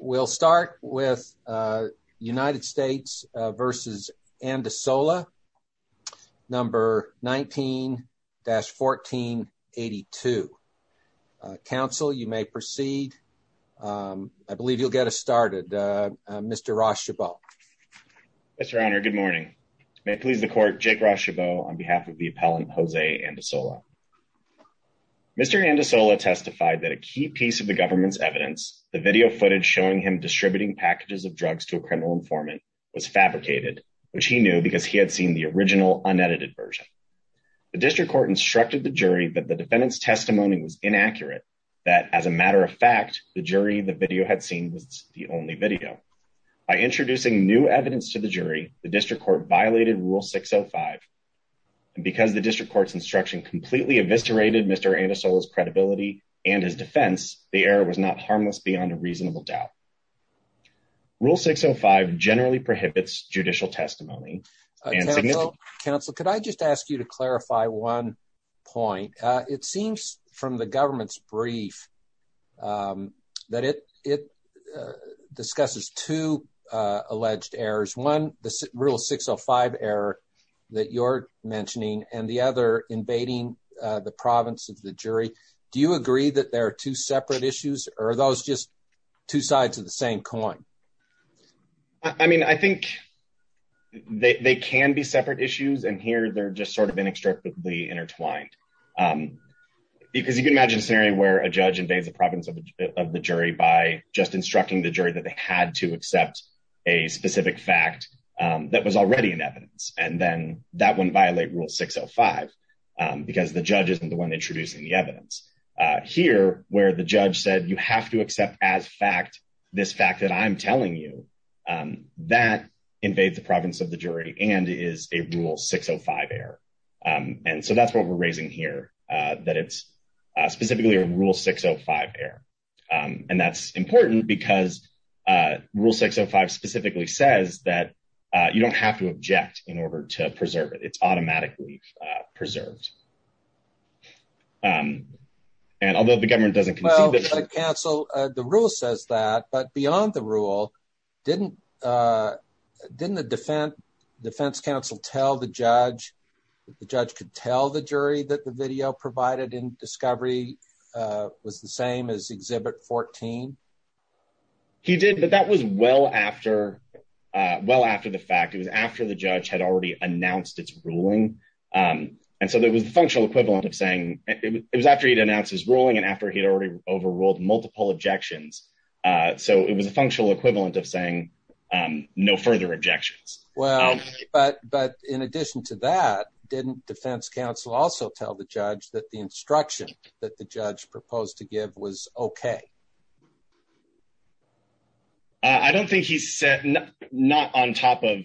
We'll start with United States v. Andasola, number 19-1482. Council, you may proceed. I believe you'll get us started. Mr. Ross Chabot. Mr. Honor, good morning. May it please the court, Jake Ross Chabot on behalf of the appellant Jose Andasola. Mr. Andasola testified that a key piece of the government's evidence, the video footage showing him distributing packages of drugs to a criminal informant, was fabricated, which he knew because he had seen the original, unedited version. The district court instructed the jury that the defendant's testimony was inaccurate, that as a matter of fact, the jury the video had seen was the only video. By introducing new evidence to the jury, the district court violated Rule 605. And because the district court's instruction completely eviscerated Mr. Andasola's credibility and his defense, the error was not harmless beyond a reasonable doubt. Rule 605 generally prohibits judicial testimony. Counsel, could I just ask you to clarify one point? It seems from the government's brief that it discusses two alleged errors. One, the Rule 605 error that you're mentioning, and the other invading the province of the jury. Do you agree that there are two separate issues, or are those just two sides of the same coin? I mean, I think they can be separate issues, and here they're just sort of inextricably intertwined. Because you can imagine a scenario where a judge invades the province of the jury by just instructing the jury that they have to accept this fact that I'm telling you. That invades the province of the jury and is a Rule 605 error. And so that's what we're raising here, that it's specifically a Rule 605 error. And that's important because Rule 605 specifically says that you don't have to object in order to preserve it. And although the government doesn't... Well, counsel, the rule says that, but beyond the rule, didn't the defense counsel tell the judge that the judge could tell the jury that the video provided in discovery was the same as Exhibit 14? He did, but that was well after well after the fact. It was after the judge had already announced its ruling. And so that was the functional equivalent of saying it was after he'd announced his ruling and after he'd already overruled multiple objections. So it was a functional equivalent of saying no further objections. Well, but in addition to that, didn't defense counsel also tell the judge that the instruction that the judge proposed to give was okay? I don't think he said... Not on top of...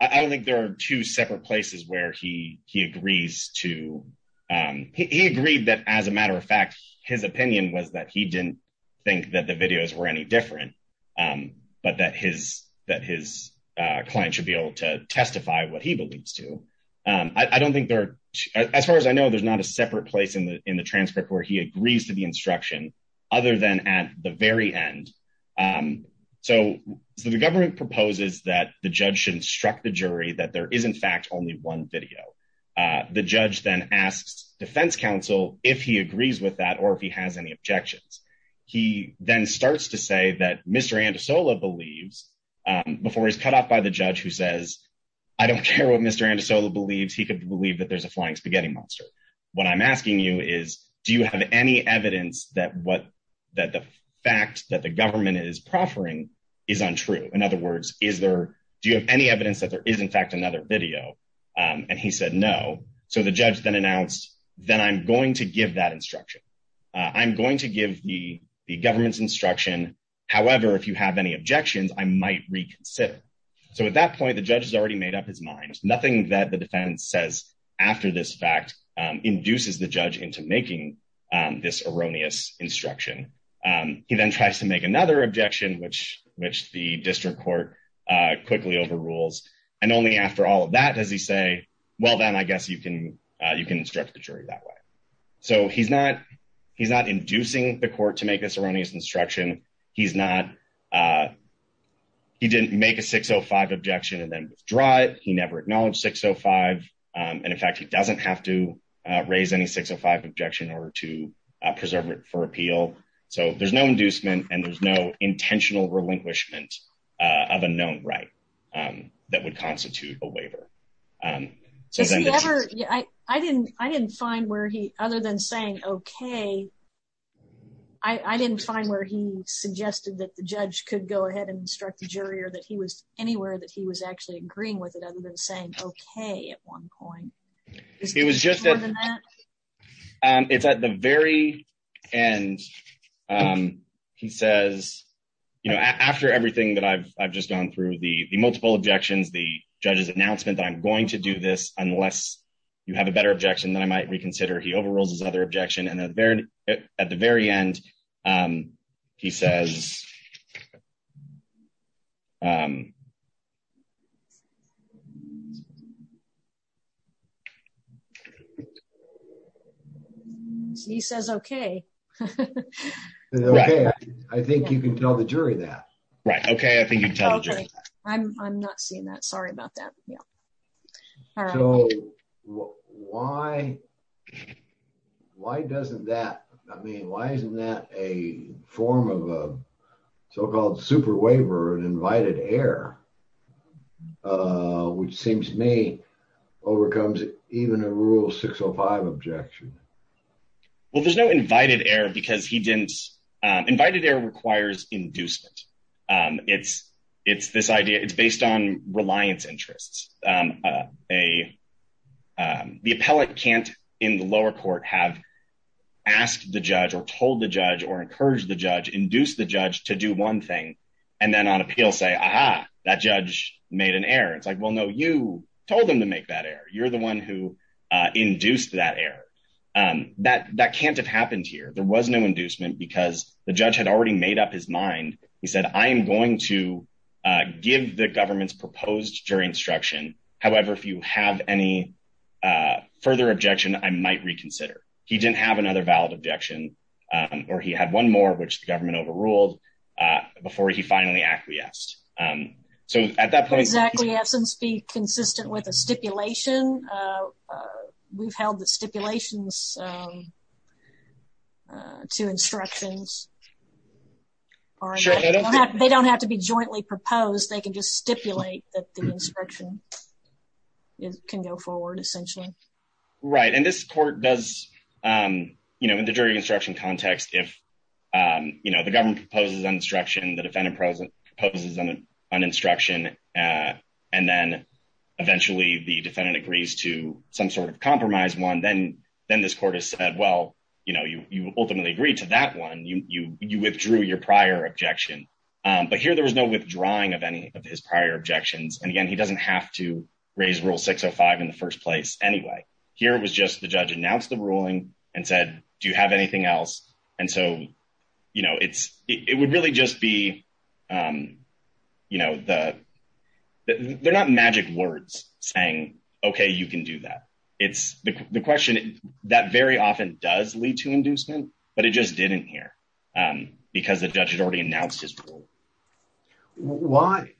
I don't think there are two separate places where he agrees to... He agreed that as a matter of fact, his opinion was that he didn't think that the videos were any different, but that his client should be able to testify what he believes to. I don't think there are... As far as I know, there's not a separate place in the transcript where he agrees to the instruction other than at the very end. So the government proposes that the judge should instruct the jury that there is in fact only one video. The judge then asks defense counsel if he agrees with that or if he has any objections. He then starts to say that Mr. Anderson believes he could believe that there's a flying spaghetti monster. What I'm asking you is, do you have any evidence that the fact that the government is proffering is untrue? In other words, is there... Do you have any evidence that there is in fact another video? And he said no. So the judge then announced, then I'm going to give that instruction. I'm going to give the government's instruction. However, if you have any objections, I might reconsider. So at that point, the judge has already made up his mind. Nothing that the defense says after this fact induces the judge into making this erroneous instruction. He then tries to make another objection, which the district court quickly overrules. And only after all of that does he say, well, then I guess you can instruct the jury that way. So he's not inducing the court to make this erroneous instruction. He's not... He didn't make a 605 objection and then withdraw it. He never acknowledged 605. And in fact, he doesn't have to raise any 605 objection in order to preserve it for appeal. So there's no inducement and there's no intentional relinquishment of a known right that would constitute a waiver. Does he ever... I didn't find where he, other than saying okay, I didn't find where he suggested that the judge could go ahead and instruct the jury or that he was anywhere that he was actually agreeing with it other than saying okay at one point. It was just... It's at the very end, he says, you know, after everything that I've just gone through, the multiple objections, the judge's announcement that I'm going to do this unless you have a better objection, then I might reconsider. He overrules his other objection and at the very end, he says... He says okay. I think you can tell the jury that. Right. Okay. I think you can tell the jury that. I'm not seeing that. Sorry about that. Yeah. So why doesn't that... I mean, why isn't that a form of a so-called super waiver, an invited error, which seems to me overcomes even a rule 605 objection? Well, there's no invited error because he didn't... Invited error requires inducement. It's this idea... It's based on reliance interests. The appellate can't, in the lower court, have asked the judge or told the judge or encouraged the judge, induced the judge to do one thing and then on appeal say, aha, that judge made an error. It's like, well, no, you told them to make that error. You're the one who induced that error. That can't have happened here. There was no inducement because the judge had already made up his mind. He said, I am going to give the government's proposed jury instruction. However, if you have any further objection, I might reconsider. He didn't have another valid objection or he had one more, which the government overruled before he finally acquiesced. So at that point... Exactly. That doesn't speak consistent with a stipulation. We've held the stipulations to instructions. They don't have to be jointly proposed. They can just stipulate that the instruction can go forward, essentially. Right. And this court does... In the jury instruction context, if the government proposes an instruction, the defendant proposes an instruction, and then eventually the defendant agrees to some sort of compromise one, then this court has said, well, you ultimately agreed to that one. You withdrew your prior objection. But here there was no withdrawing of any of his prior objections. And again, he doesn't have to raise Rule 605 in the first place anyway. Here it was just the judge announced the ruling and said, do you have anything else? And so it would really just be... They're not magic words saying, okay, you can do that. It's the question that very often does lead to inducement, but it just didn't here because the judge had already announced his rule. Why?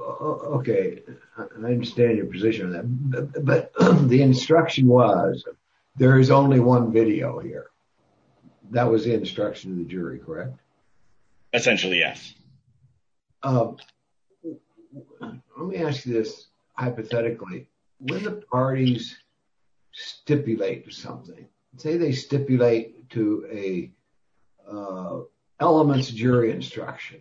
Okay. I understand your position on that. But the instruction was there is only one video here. That was the instruction of the jury, correct? Essentially, yes. Let me ask you this hypothetically. When the parties stipulate something, say they stipulate to a elements jury instruction,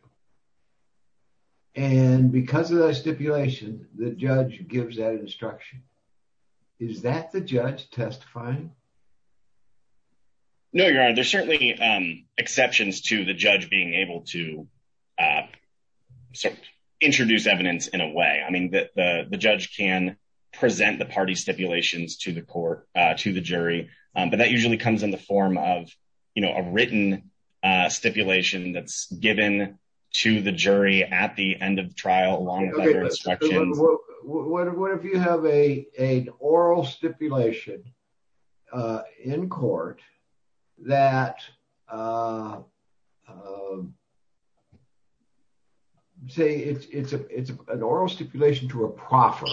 and because of that stipulation, the judge gives that instruction. Is that the judge testifying? No, Your Honor. There's certainly exceptions to the judge being able to introduce evidence in a way. I mean, the judge can present the party stipulations to the jury, but that usually comes in the form of a written stipulation that's given to the jury at the end of the oral stipulation in court that, say, it's an oral stipulation to a proffer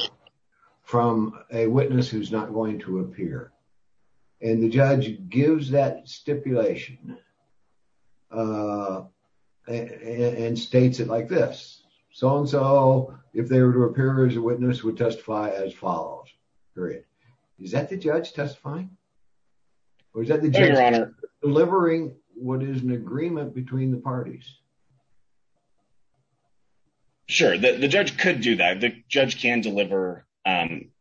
from a witness who's not going to appear. And the judge gives that stipulation and states it like this. So-and-so, if they were to appear as a witness, would testify as follows, period. Is that the judge testifying? Or is that the judge delivering what is an agreement between the parties? Sure. The judge could do that. The judge can deliver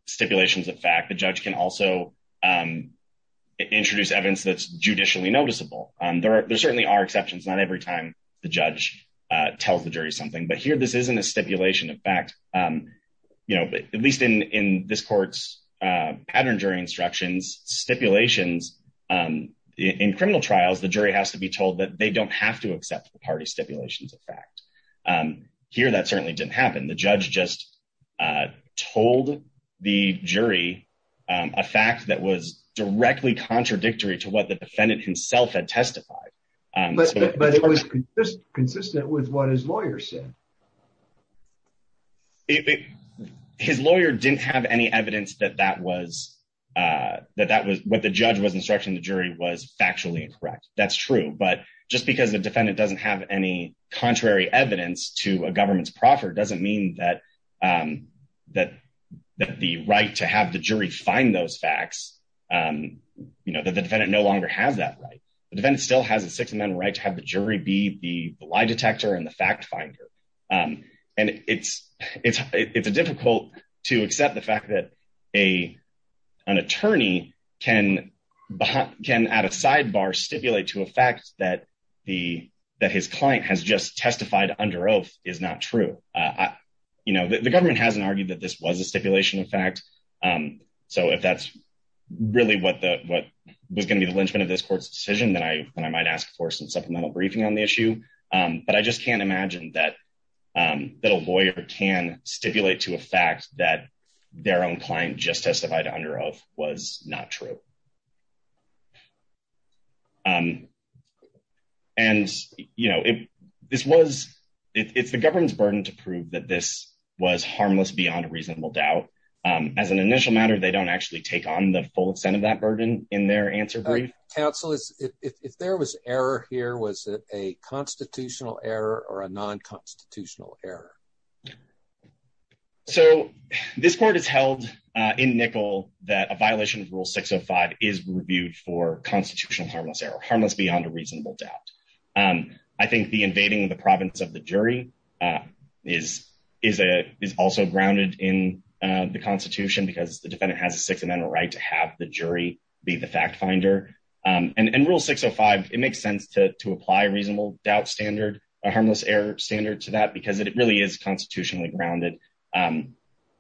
stipulations of fact. The judge can also introduce evidence that's judicially noticeable. There certainly are exceptions. Not every time the judge tells the jury something. But here, this isn't a stipulation of fact. At least in this court's pattern jury instructions, stipulations-in criminal trials, the jury has to be told that they don't have to accept the party stipulations of fact. Here, that certainly didn't happen. The judge just told the jury a fact that was directly contradictory to what the defendant himself had testified. But it was consistent with what his lawyer said. His lawyer didn't have any evidence that that was-that that was-what the judge was instructing the jury was factually incorrect. That's true. But just because the defendant doesn't have any contrary evidence to a government's proffer doesn't mean that that-that the right to have the jury find those facts, you know, that the defendant no longer has that right. The defendant still has a six-amendment right to have the jury be the lie detector and the fact finder. And it's-it's-it's difficult to accept the fact that a-an attorney can-can at a sidebar stipulate to a fact that the-that his client has just testified under oath is not true. You know, the government hasn't argued that this was a stipulation of fact, so if that's really what the-what was going to be the linchpin of this court's decision, then I-then I might ask for some supplemental briefing on the issue. But I just can't imagine that-that a lawyer can stipulate to a fact that their own client just testified under oath was not true. And, you know, it-this was-it-it's the government's burden to prove that this was harmless beyond a reasonable doubt. As an initial matter, they don't actually take on the full extent of that burden in their answer brief. All right. Counsel, is-if-if there was error here, was it a constitutional error or a non-constitutional error? So, this court has held, uh, in NICL that a violation of Rule 605 is reviewed for constitutional harmless error, harmless beyond a reasonable doubt. Um, I think the invading of the province of the jury, uh, is-is a-is also grounded in, uh, the Constitution because the defendant has a Sixth Amendment right to have the jury be the fact-finder. Um, and-and Rule 605, it makes sense to-to apply a reasonable doubt standard, a harmless error standard to that because it-it really is constitutionally grounded. Um,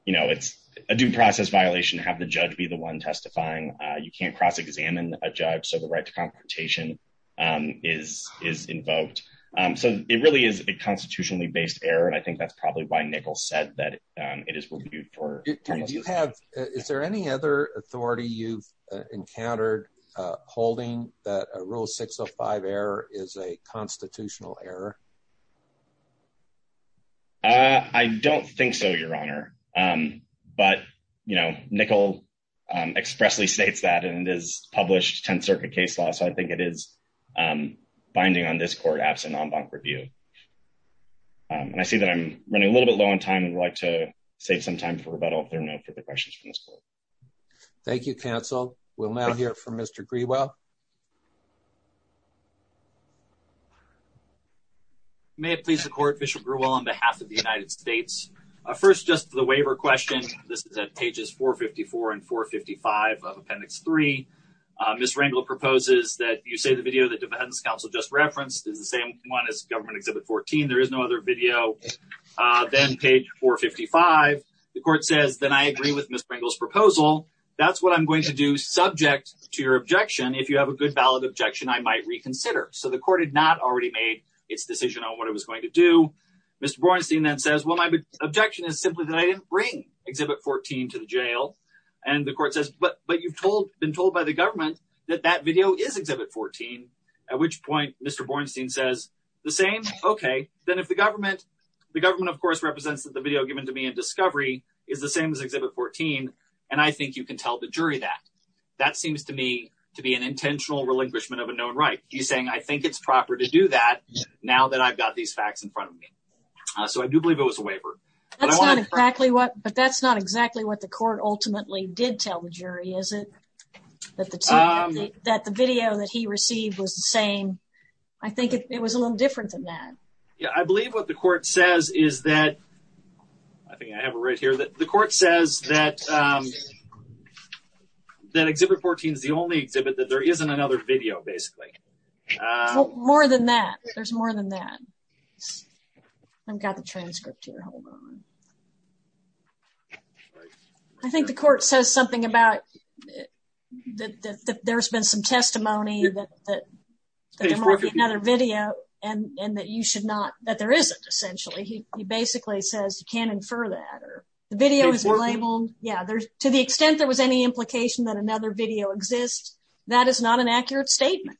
you know, it's a due process violation to have the judge be the one testifying. Uh, you can't cross-examine a judge, so the right to confrontation, um, is-is invoked. Um, so it really is a constitutionally based error, and I think that's probably why NICL said that, um, it is reviewed for- Do-do you have-is there any other authority you've, uh, encountered, uh, holding that a Rule 605 is a constitutional error? Uh, I don't think so, Your Honor. Um, but, you know, NICL, um, expressly states that, and it is published Tenth Circuit case law, so I think it is, um, binding on this court, absent non-bonk review. Um, and I see that I'm running a little bit low on time. I'd like to save some time for rebuttal if there are no further questions from this court. Thank you, counsel. We'll now hear from Mr. Grewell. May it please the court, Bishop Grewell, on behalf of the United States. Uh, first, just the waiver question. This is at pages 454 and 455 of Appendix 3. Uh, Ms. Rangel proposes that you say the video that defense counsel just referenced is the same one as Government Exhibit 14. There is no other video. Uh, then page 455, the court says, then I agree with Ms. Rangel's proposal. That's what I'm going to do subject to your objection. If you have a good valid objection, I might reconsider. So the court had not already made its decision on what it was going to do. Mr. Bornstein then says, well, my objection is simply that I didn't bring Exhibit 14 to the jail. And the court says, but, but you've told, been told by the government that that video is Exhibit 14. At which point, Mr. Bornstein says the same. Okay. Then if the government, the government of course represents that the video given to me in discovery is the same as Exhibit 14. And I think you can tell the jury that, that seems to me to be an intentional relinquishment of a known right. He's saying, I think it's proper to do that now that I've got these facts in front of me. Uh, so I do believe it was a waiver. That's not exactly what, but that's not exactly what the court ultimately did tell the jury, is it? That the, that the video that he received was the same. I think it was a little different than that. Yeah. I believe what the court says is that, I think I have it right here, that the court says that, um, that Exhibit 14 is the only exhibit that there isn't another video, basically. More than that. There's more than that. I've got the transcript here. Hold on. I think the court says something about, that, that, that there's been some testimony that, that, that there might be another video and, and that you should not, that there isn't essentially. He, he basically says you can't infer that or the video is labeled. Yeah. There's, to the extent there was any implication that another video exists, that is not an accurate statement.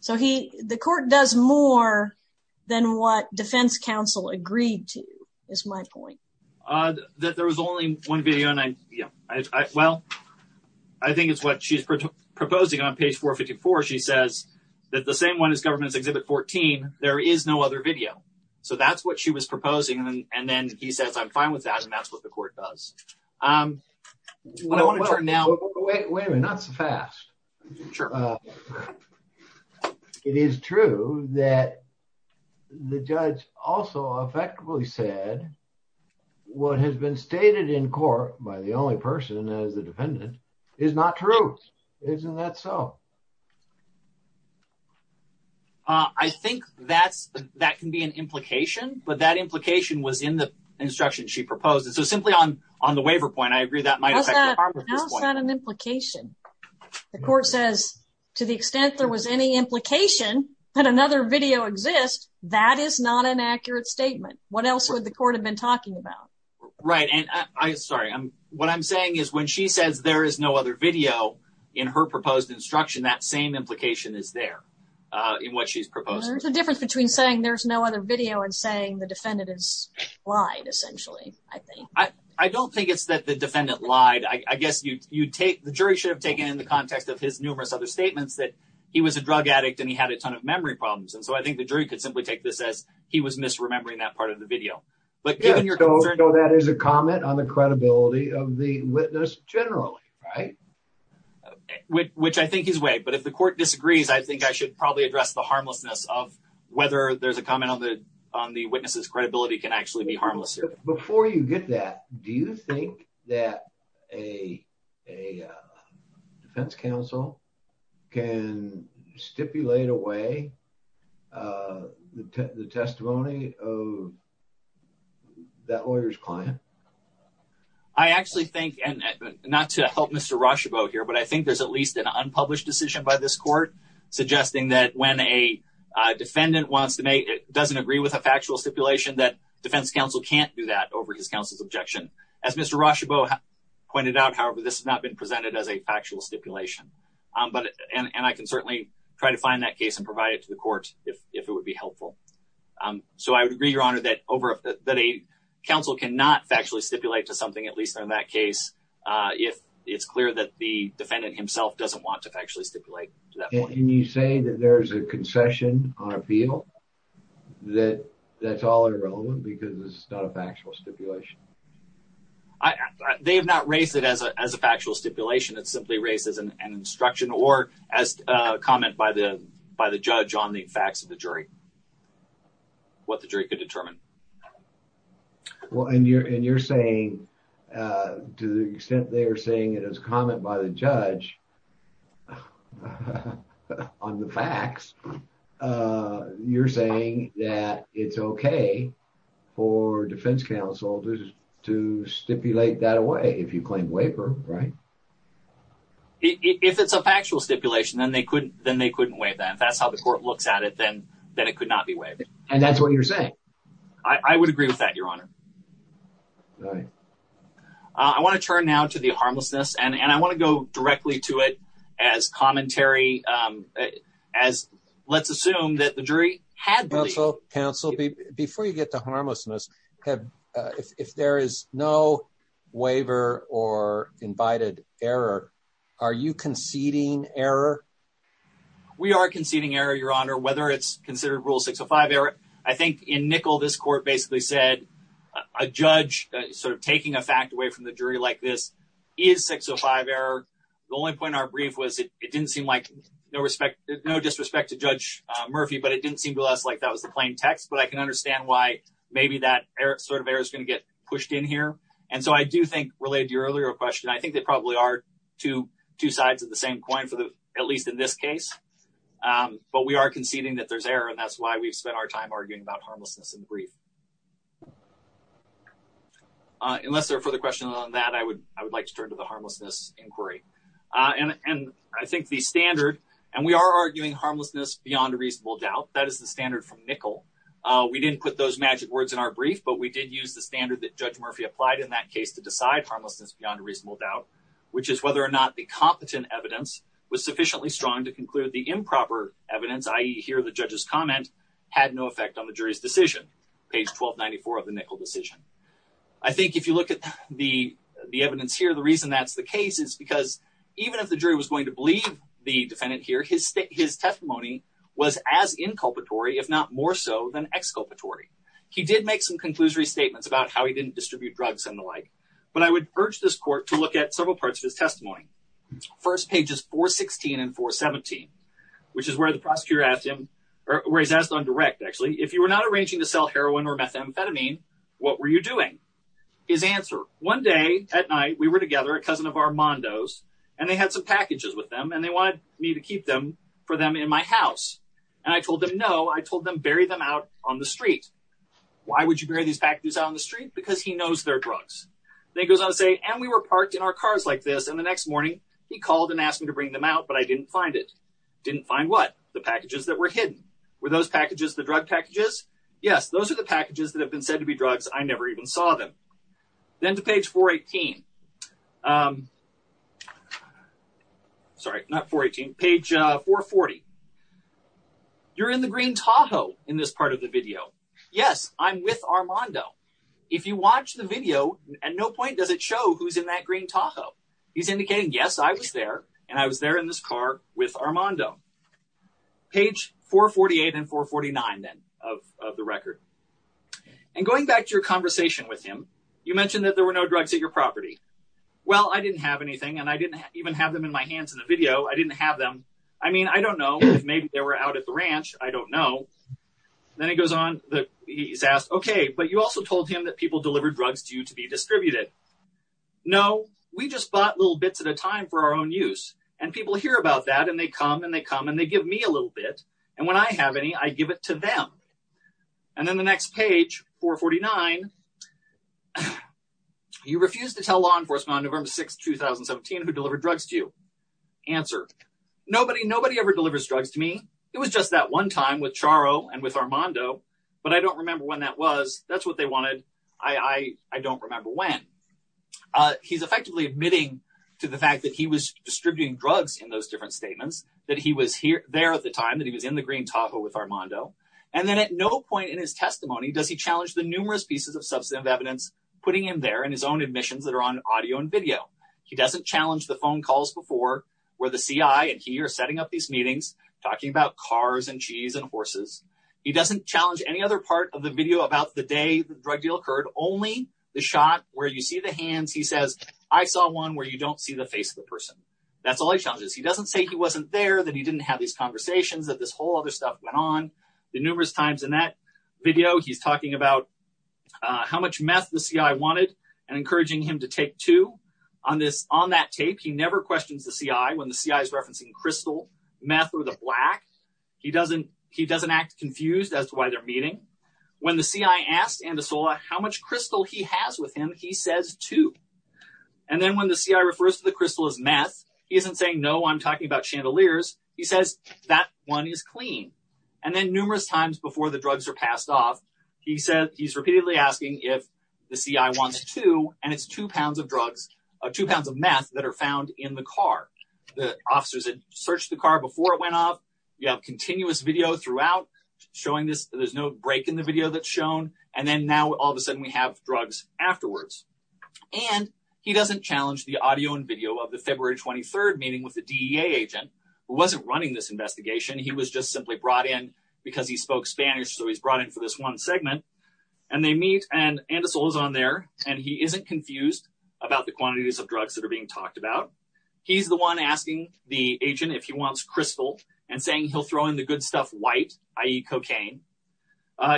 So he, the court does more than what defense counsel agreed to, is my point. Uh, that there was only one video and I, yeah, I, I, well, I think it's what she's proposing on page 454. She says that the same one as government's Exhibit 14, there is no other video. So that's what she was proposing. And then he says, I'm fine with that. And that's what the court does. Um, what I want to turn now, wait, wait a minute, not so fast. It is true that the judge also effectively said what has been stated in court by the only person as the defendant is not true. Isn't that so? Uh, I think that's, that can be an implication, but that implication was in the instruction she proposed. And so simply on, on the waiver point, I agree that might affect the harm of this point. How is that an implication? The court says to the extent there was any implication that another video exists, that is not an accurate statement. What else would the court have been talking about? Right. And I, I, sorry, I'm, what I'm saying is when she says there is no other video in her proposed instruction, that same implication is there, uh, in what she's proposing. There's a difference between saying there's no other video and saying the defendant is lied essentially, I think. I don't think it's that the defendant lied. I guess you, you take the jury should have taken in the context of his numerous other statements that he was a drug addict and he had a ton of memory problems. And so I think the jury could simply take this as he was misremembering that part of the video, but given your concern, So that is a comment on the credibility of the witness generally, right? Which I think is way, but if the court disagrees, I think I should probably address the credibility can actually be harmless. Before you get that, do you think that a, a, uh, defense counsel can stipulate away, uh, the, the testimony of that lawyer's client? I actually think, and not to help Mr. Rochebeau here, but I think there's at least an unpublished decision by this court suggesting that when a defendant wants to make, it doesn't agree with factual stipulation that defense counsel can't do that over his counsel's objection. As Mr. Rochebeau pointed out, however, this has not been presented as a factual stipulation. Um, but, and, and I can certainly try to find that case and provide it to the court if, if it would be helpful. Um, so I would agree your honor that over that a counsel cannot factually stipulate to something, at least in that case, uh, if it's clear that the defendant himself doesn't want to actually stipulate. Can you say that there's a concession on appeal that that's all irrelevant because it's not a factual stipulation? I, they have not raised it as a, as a factual stipulation. It's simply raised as an, an instruction or as a comment by the, by the judge on the facts of the jury, what the jury could determine. Well, and you're, and you're saying, uh, to the extent they are saying it as a comment by the judge on the facts, uh, you're saying that it's okay for defense counsel to, to stipulate that away if you claim waiver, right? If it's a factual stipulation, then they couldn't, then they couldn't waive that. If that's how the court looks at it, then, then it could not be waived. And that's what you're saying. I would agree with that, your honor. Right. I want to turn now to the harmlessness and, and I want to go directly to it as commentary, um, as let's assume that the jury had counsel before you get to harmlessness have, uh, if, if there is no waiver or invited error, are you conceding error? We are conceding error, your honor, whether it's considered rule six or five error. I think in nickel, this court basically said a judge sort of taking a fact away from the jury like this is six or five error. The only point in our brief was it, it didn't seem like no respect, no disrespect to judge Murphy, but it didn't seem to us like that was the plain text, but I can understand why maybe that sort of error is going to get pushed in here. And so I do think related to your earlier question, I think they probably are two, two sides of the same coin for the, at least in this case. Um, but we are conceding that there's error and that's why we've spent our time arguing about harmlessness in the brief. Uh, unless there are further questions on that, I would, I would like to turn to the harmlessness inquiry. Uh, and, and I think the standard, and we are arguing harmlessness beyond a reasonable doubt that is the standard from nickel. Uh, we didn't put those magic words in our brief, but we did use the standard that judge Murphy applied in that case to decide harmlessness beyond a reasonable doubt, which is whether or not the competent evidence was sufficiently strong to conclude the improper evidence. I hear the judge's comment had no effect on the jury's decision. Page 1294 of the nickel decision. I think if you look at the, the evidence here, the reason that's the case is because even if the jury was going to believe the defendant here, his state, his testimony was as inculpatory, if not more so than exculpatory. He did make some conclusory statements about how he didn't distribute drugs and the like, but I would urge this court to look at several parts of his where he's asked on direct, actually, if you were not arranging to sell heroin or methamphetamine, what were you doing? His answer one day at night, we were together, a cousin of Armando's, and they had some packages with them and they wanted me to keep them for them in my house. And I told them, no, I told them, bury them out on the street. Why would you bury these packages out on the street? Because he knows they're drugs. Then he goes on to say, and we were parked in our cars like this. And the next morning he called and asked me to bring them out, but I didn't find it. Didn't find what? The packages that were hidden. Were those packages the drug packages? Yes, those are the packages that have been said to be drugs. I never even saw them. Then to page 418, sorry, not 418, page 440. You're in the green Tahoe in this part of the video. Yes, I'm with Armando. If you watch the video, at no point does it show who's in that green Tahoe. He's with Armando. Page 448 and 449 then of the record. And going back to your conversation with him, you mentioned that there were no drugs at your property. Well, I didn't have anything and I didn't even have them in my hands in the video. I didn't have them. I mean, I don't know if maybe they were out at the ranch. I don't know. Then he goes on, he's asked, okay, but you also told him that people deliver drugs to you to be distributed. No, we just bought little bits at a time for our own use. And people hear about that and they come and they come and they give me a little bit. And when I have any, I give it to them. And then the next page, 449, you refuse to tell law enforcement on November 6th, 2017, who delivered drugs to you. Answer, nobody, nobody ever delivers drugs to me. It was just that one time with Charo and with Armando, but I don't remember when that was. That's what they wanted. I, I, I don't remember when, uh, he's effectively admitting to the fact that he was distributing drugs in those different statements that he was here there at the time that he was in the green taco with Armando. And then at no point in his testimony, does he challenge the numerous pieces of substantive evidence, putting him there in his own admissions that are on audio and video. He doesn't challenge the phone calls before where the CI and he are setting up these meetings talking about cars and cheese and horses. He doesn't challenge any other part of the video about the day the drug deal only the shot where you see the hands. He says, I saw one where you don't see the face of the person. That's all he challenges. He doesn't say he wasn't there that he didn't have these conversations that this whole other stuff went on the numerous times in that video. He's talking about how much meth the CI wanted and encouraging him to take two on this on that tape. He never questions the CI when the CI is referencing crystal meth or the black, he doesn't, he doesn't act confused as to why they're meeting. When the CI asked and the solar, how much crystal he has with him, he says two. And then when the CI refers to the crystals meth, he isn't saying, no, I'm talking about chandeliers. He says that one is clean. And then numerous times before the drugs are passed off, he said, he's repeatedly asking if the CI wants to, and it's two pounds of drugs, two pounds of meth that are found in the car. The officers had searched the car before it went off. You have continuous video throughout showing this. There's no break in the video that's shown. And then now all of a sudden we have drugs afterwards. And he doesn't challenge the audio and video of the February 23rd meeting with the DEA agent who wasn't running this investigation. He was just simply brought in because he spoke Spanish. So he's brought in for this one segment and they meet and and the soul is on there. And he isn't confused about the quantities of drugs that are being talked about. He's the one asking the agent if he wants crystal and saying he'll throw in the good stuff white, i.e. cocaine.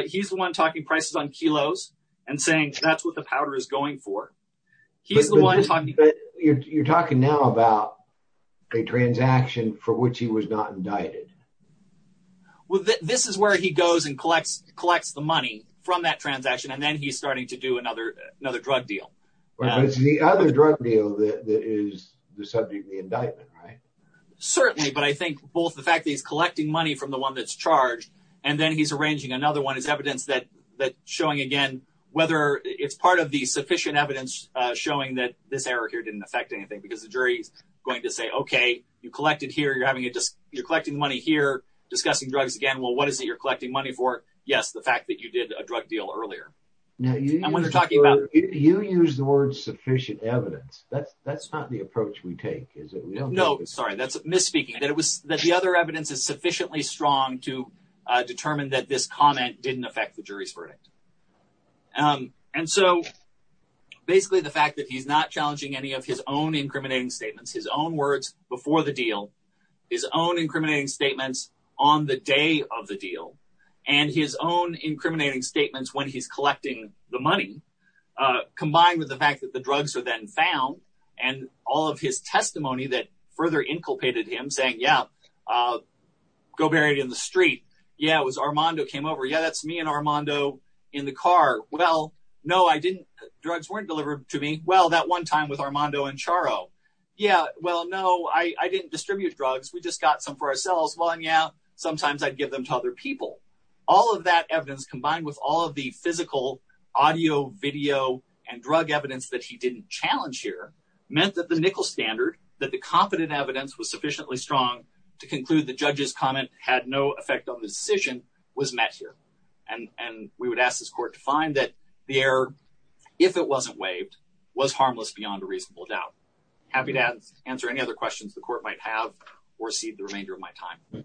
He's the one talking prices on kilos and saying that's what the powder is going for. He's the one talking. But you're talking now about a transaction for which he was not indicted. Well, this is where he goes and collects the money from that transaction, and then he's starting to do another another drug deal. It's the other drug deal that is the subject of the indictment, right? Certainly. But I think both the fact that he's collecting money from the one that's charged and then he's arranging another one is evidence that that showing again whether it's part of the sufficient evidence showing that this error here didn't affect anything because the jury is going to say, OK, you collected here, you're having it, you're collecting money here, discussing drugs again. Well, what is it you're collecting money for? Yes, the fact that you did a drug deal earlier. And when you're talking about you use the word sufficient evidence, that's that's not the approach we take, is it? No, sorry. That's misspeaking that it was that the other evidence is sufficiently strong to determine that this comment didn't affect the jury's verdict. And so basically the fact that he's not challenging any of his own incriminating statements, his own words before the deal, his own incriminating statements on the day of the deal and his own incriminating statements when he's collecting the money, combined with the fact that the drugs are then found and all of his testimony that further inculpated him saying, yeah, go buried in the street. Yeah, it was Armando came over. Yeah, that's me and Armando in the car. Well, no, I didn't. Drugs weren't delivered to me. Well, that one time with Armando and Charo. Yeah. Well, no, I didn't distribute drugs. We just got some for ourselves. Well, yeah, sometimes I'd give them to other people. All of that evidence, combined with all of the physical audio, video and drug evidence that he didn't challenge here meant that the nickel standard that the competent evidence was sufficiently strong to conclude the judge's comment had no effect on the decision was met here. And we would ask this court to find that the error, if it wasn't waived, was harmless beyond a reasonable doubt. Happy to answer any other questions the court might have or see the remainder of my time.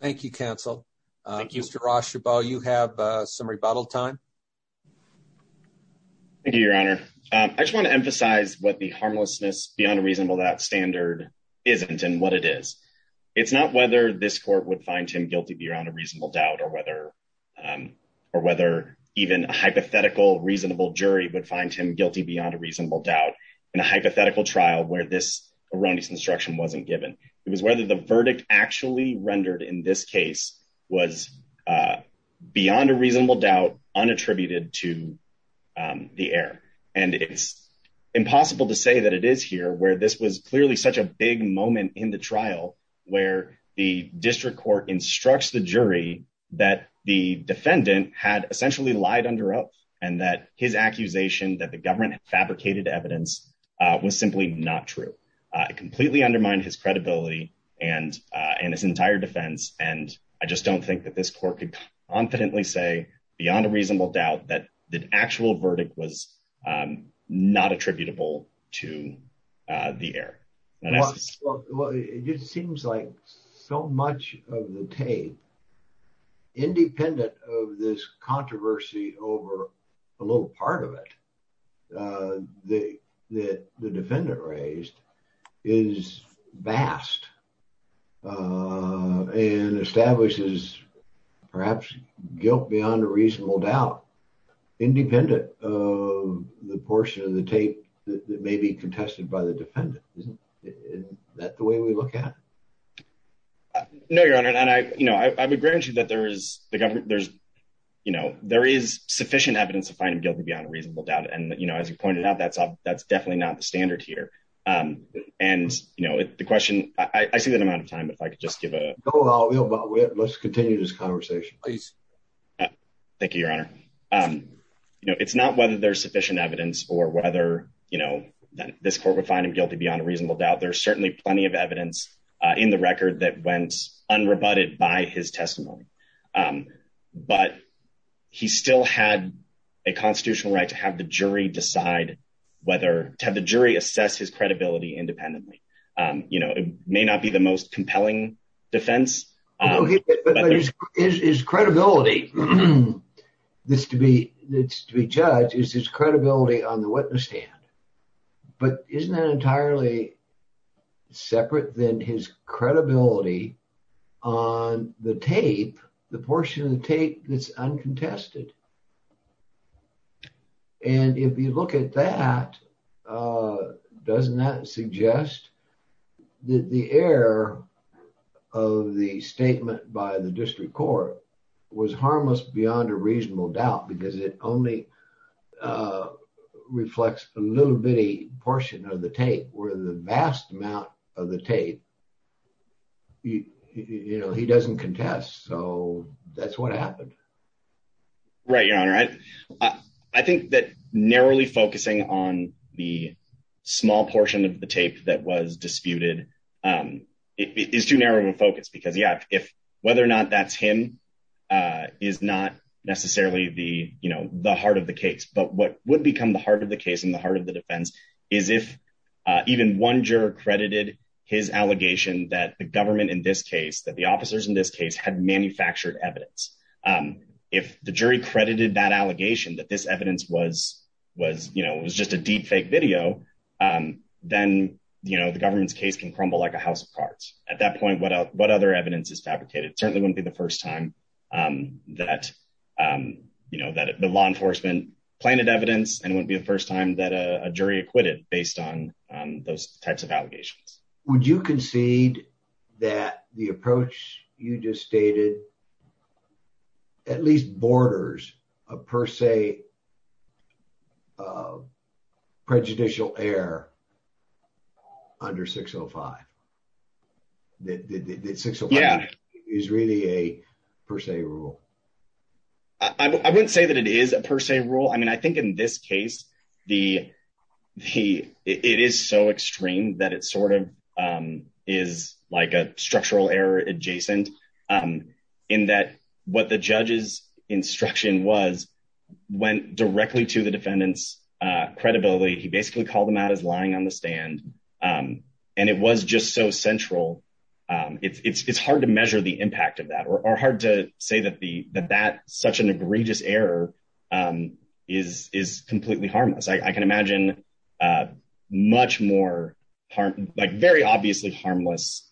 Thank you, counsel. Thank you, Mr. Rosh. You have some rebuttal time. Thank you, Your Honor. I just want to emphasize what the harmlessness beyond a reasonable that standard isn't and what it is. It's not whether this court would find him guilty beyond a reasonable doubt or whether or whether even a hypothetical reasonable jury would find him beyond a reasonable doubt in a hypothetical trial where this erroneous instruction wasn't given. It was whether the verdict actually rendered in this case was beyond a reasonable doubt, unattributed to the air. And it's impossible to say that it is here where this was clearly such a big moment in the trial where the district court instructs the jury that the defendant had fabricated evidence was simply not true. It completely undermined his credibility and and his entire defense. And I just don't think that this court could confidently say beyond a reasonable doubt that the actual verdict was not attributable to the air. It seems like so much of the tape, independent of this controversy over a little part of it, that the defendant raised is vast and establishes perhaps guilt beyond a reasonable doubt, independent of the portion of the tape that may be contested by the defendant. Is that the way we look at it? No, Your Honor. And I, you know, I would grant you that there is the government, there's, you know, there is sufficient evidence to find him guilty beyond reasonable doubt. And, you know, as you pointed out, that's that's definitely not the standard here. And, you know, the question I see that amount of time, if I could just give a little bit, let's continue this conversation, please. Thank you, Your Honor. You know, it's not whether there's sufficient evidence or whether, you know, that this court would find him guilty beyond a reasonable doubt. There's certainly plenty of evidence in the record that went unrebutted by his testimony. But he still had a constitutional right to have the jury decide whether to have the jury assess his credibility independently. You know, it may not be the most compelling defense. But his credibility is to be judged, is his credibility on the witness stand. But isn't that entirely separate than his credibility on the tape, the portion of the tape that's uncontested? And if you look at that, doesn't that suggest that the error of the statement by the district court was harmless beyond a reasonable doubt because it only reflects a little bitty portion of the tape, where the vast amount of the tape, you know, he doesn't contest. So that's what happened. Right, Your Honor. I think that narrowly focusing on the small portion of the tape that was disputed is too narrow of a focus because, yeah, if whether or not that's him is not necessarily the, the heart of the case. But what would become the heart of the case and the heart of the defense is if even one juror credited his allegation that the government in this case, that the officers in this case had manufactured evidence. If the jury credited that allegation that this evidence was, was, you know, it was just a deep fake video, then, you know, the government's case can crumble like a house of cards. At that point, what other evidence is fabricated? Certainly wouldn't be the first time that, you know, that the law enforcement planted evidence and it wouldn't be the first time that a jury acquitted based on those types of allegations. Would you concede that the approach you just stated at least borders a per se prejudicial error under 605? That 605 is really a per se rule? I wouldn't say that it is a per se rule. I mean, I think in this case, the, the, it is so extreme that it sort of is like a structural error adjacent in that what the judge's instruction was went directly to the defendant's credibility. He basically called them lying on the stand. And it was just so central. It's hard to measure the impact of that or hard to say that the, that that such an egregious error is, is completely harmless. I can imagine much more harm, like very obviously harmless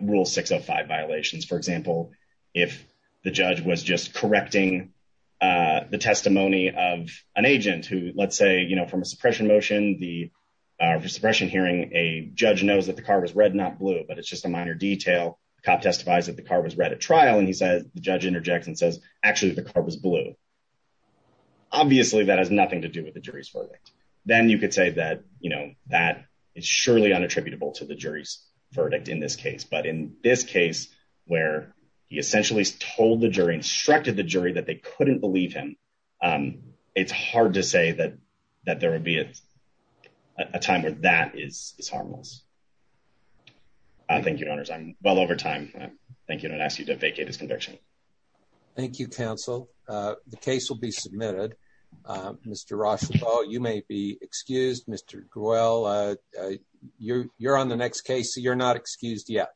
rule 605 violations. For example, if the judge was just correcting the testimony of an agent who, let's say, you know, from a suppression hearing, a judge knows that the car was red, not blue, but it's just a minor detail. The cop testifies that the car was red at trial. And he says, the judge interjects and says, actually, the car was blue. Obviously, that has nothing to do with the jury's verdict. Then you could say that, you know, that is surely unattributable to the jury's verdict in this case. But in this case, where he essentially told the jury, instructed the jury that they couldn't believe him. It's hard to say that, that there would be a time where that is harmless. Thank you. Owners. I'm well over time. Thank you. Don't ask you to vacate his conviction. Thank you, counsel. The case will be submitted. Mr. Ross, you may be excused. Mr. Groyle, you're on the next case. So you're not excused yet.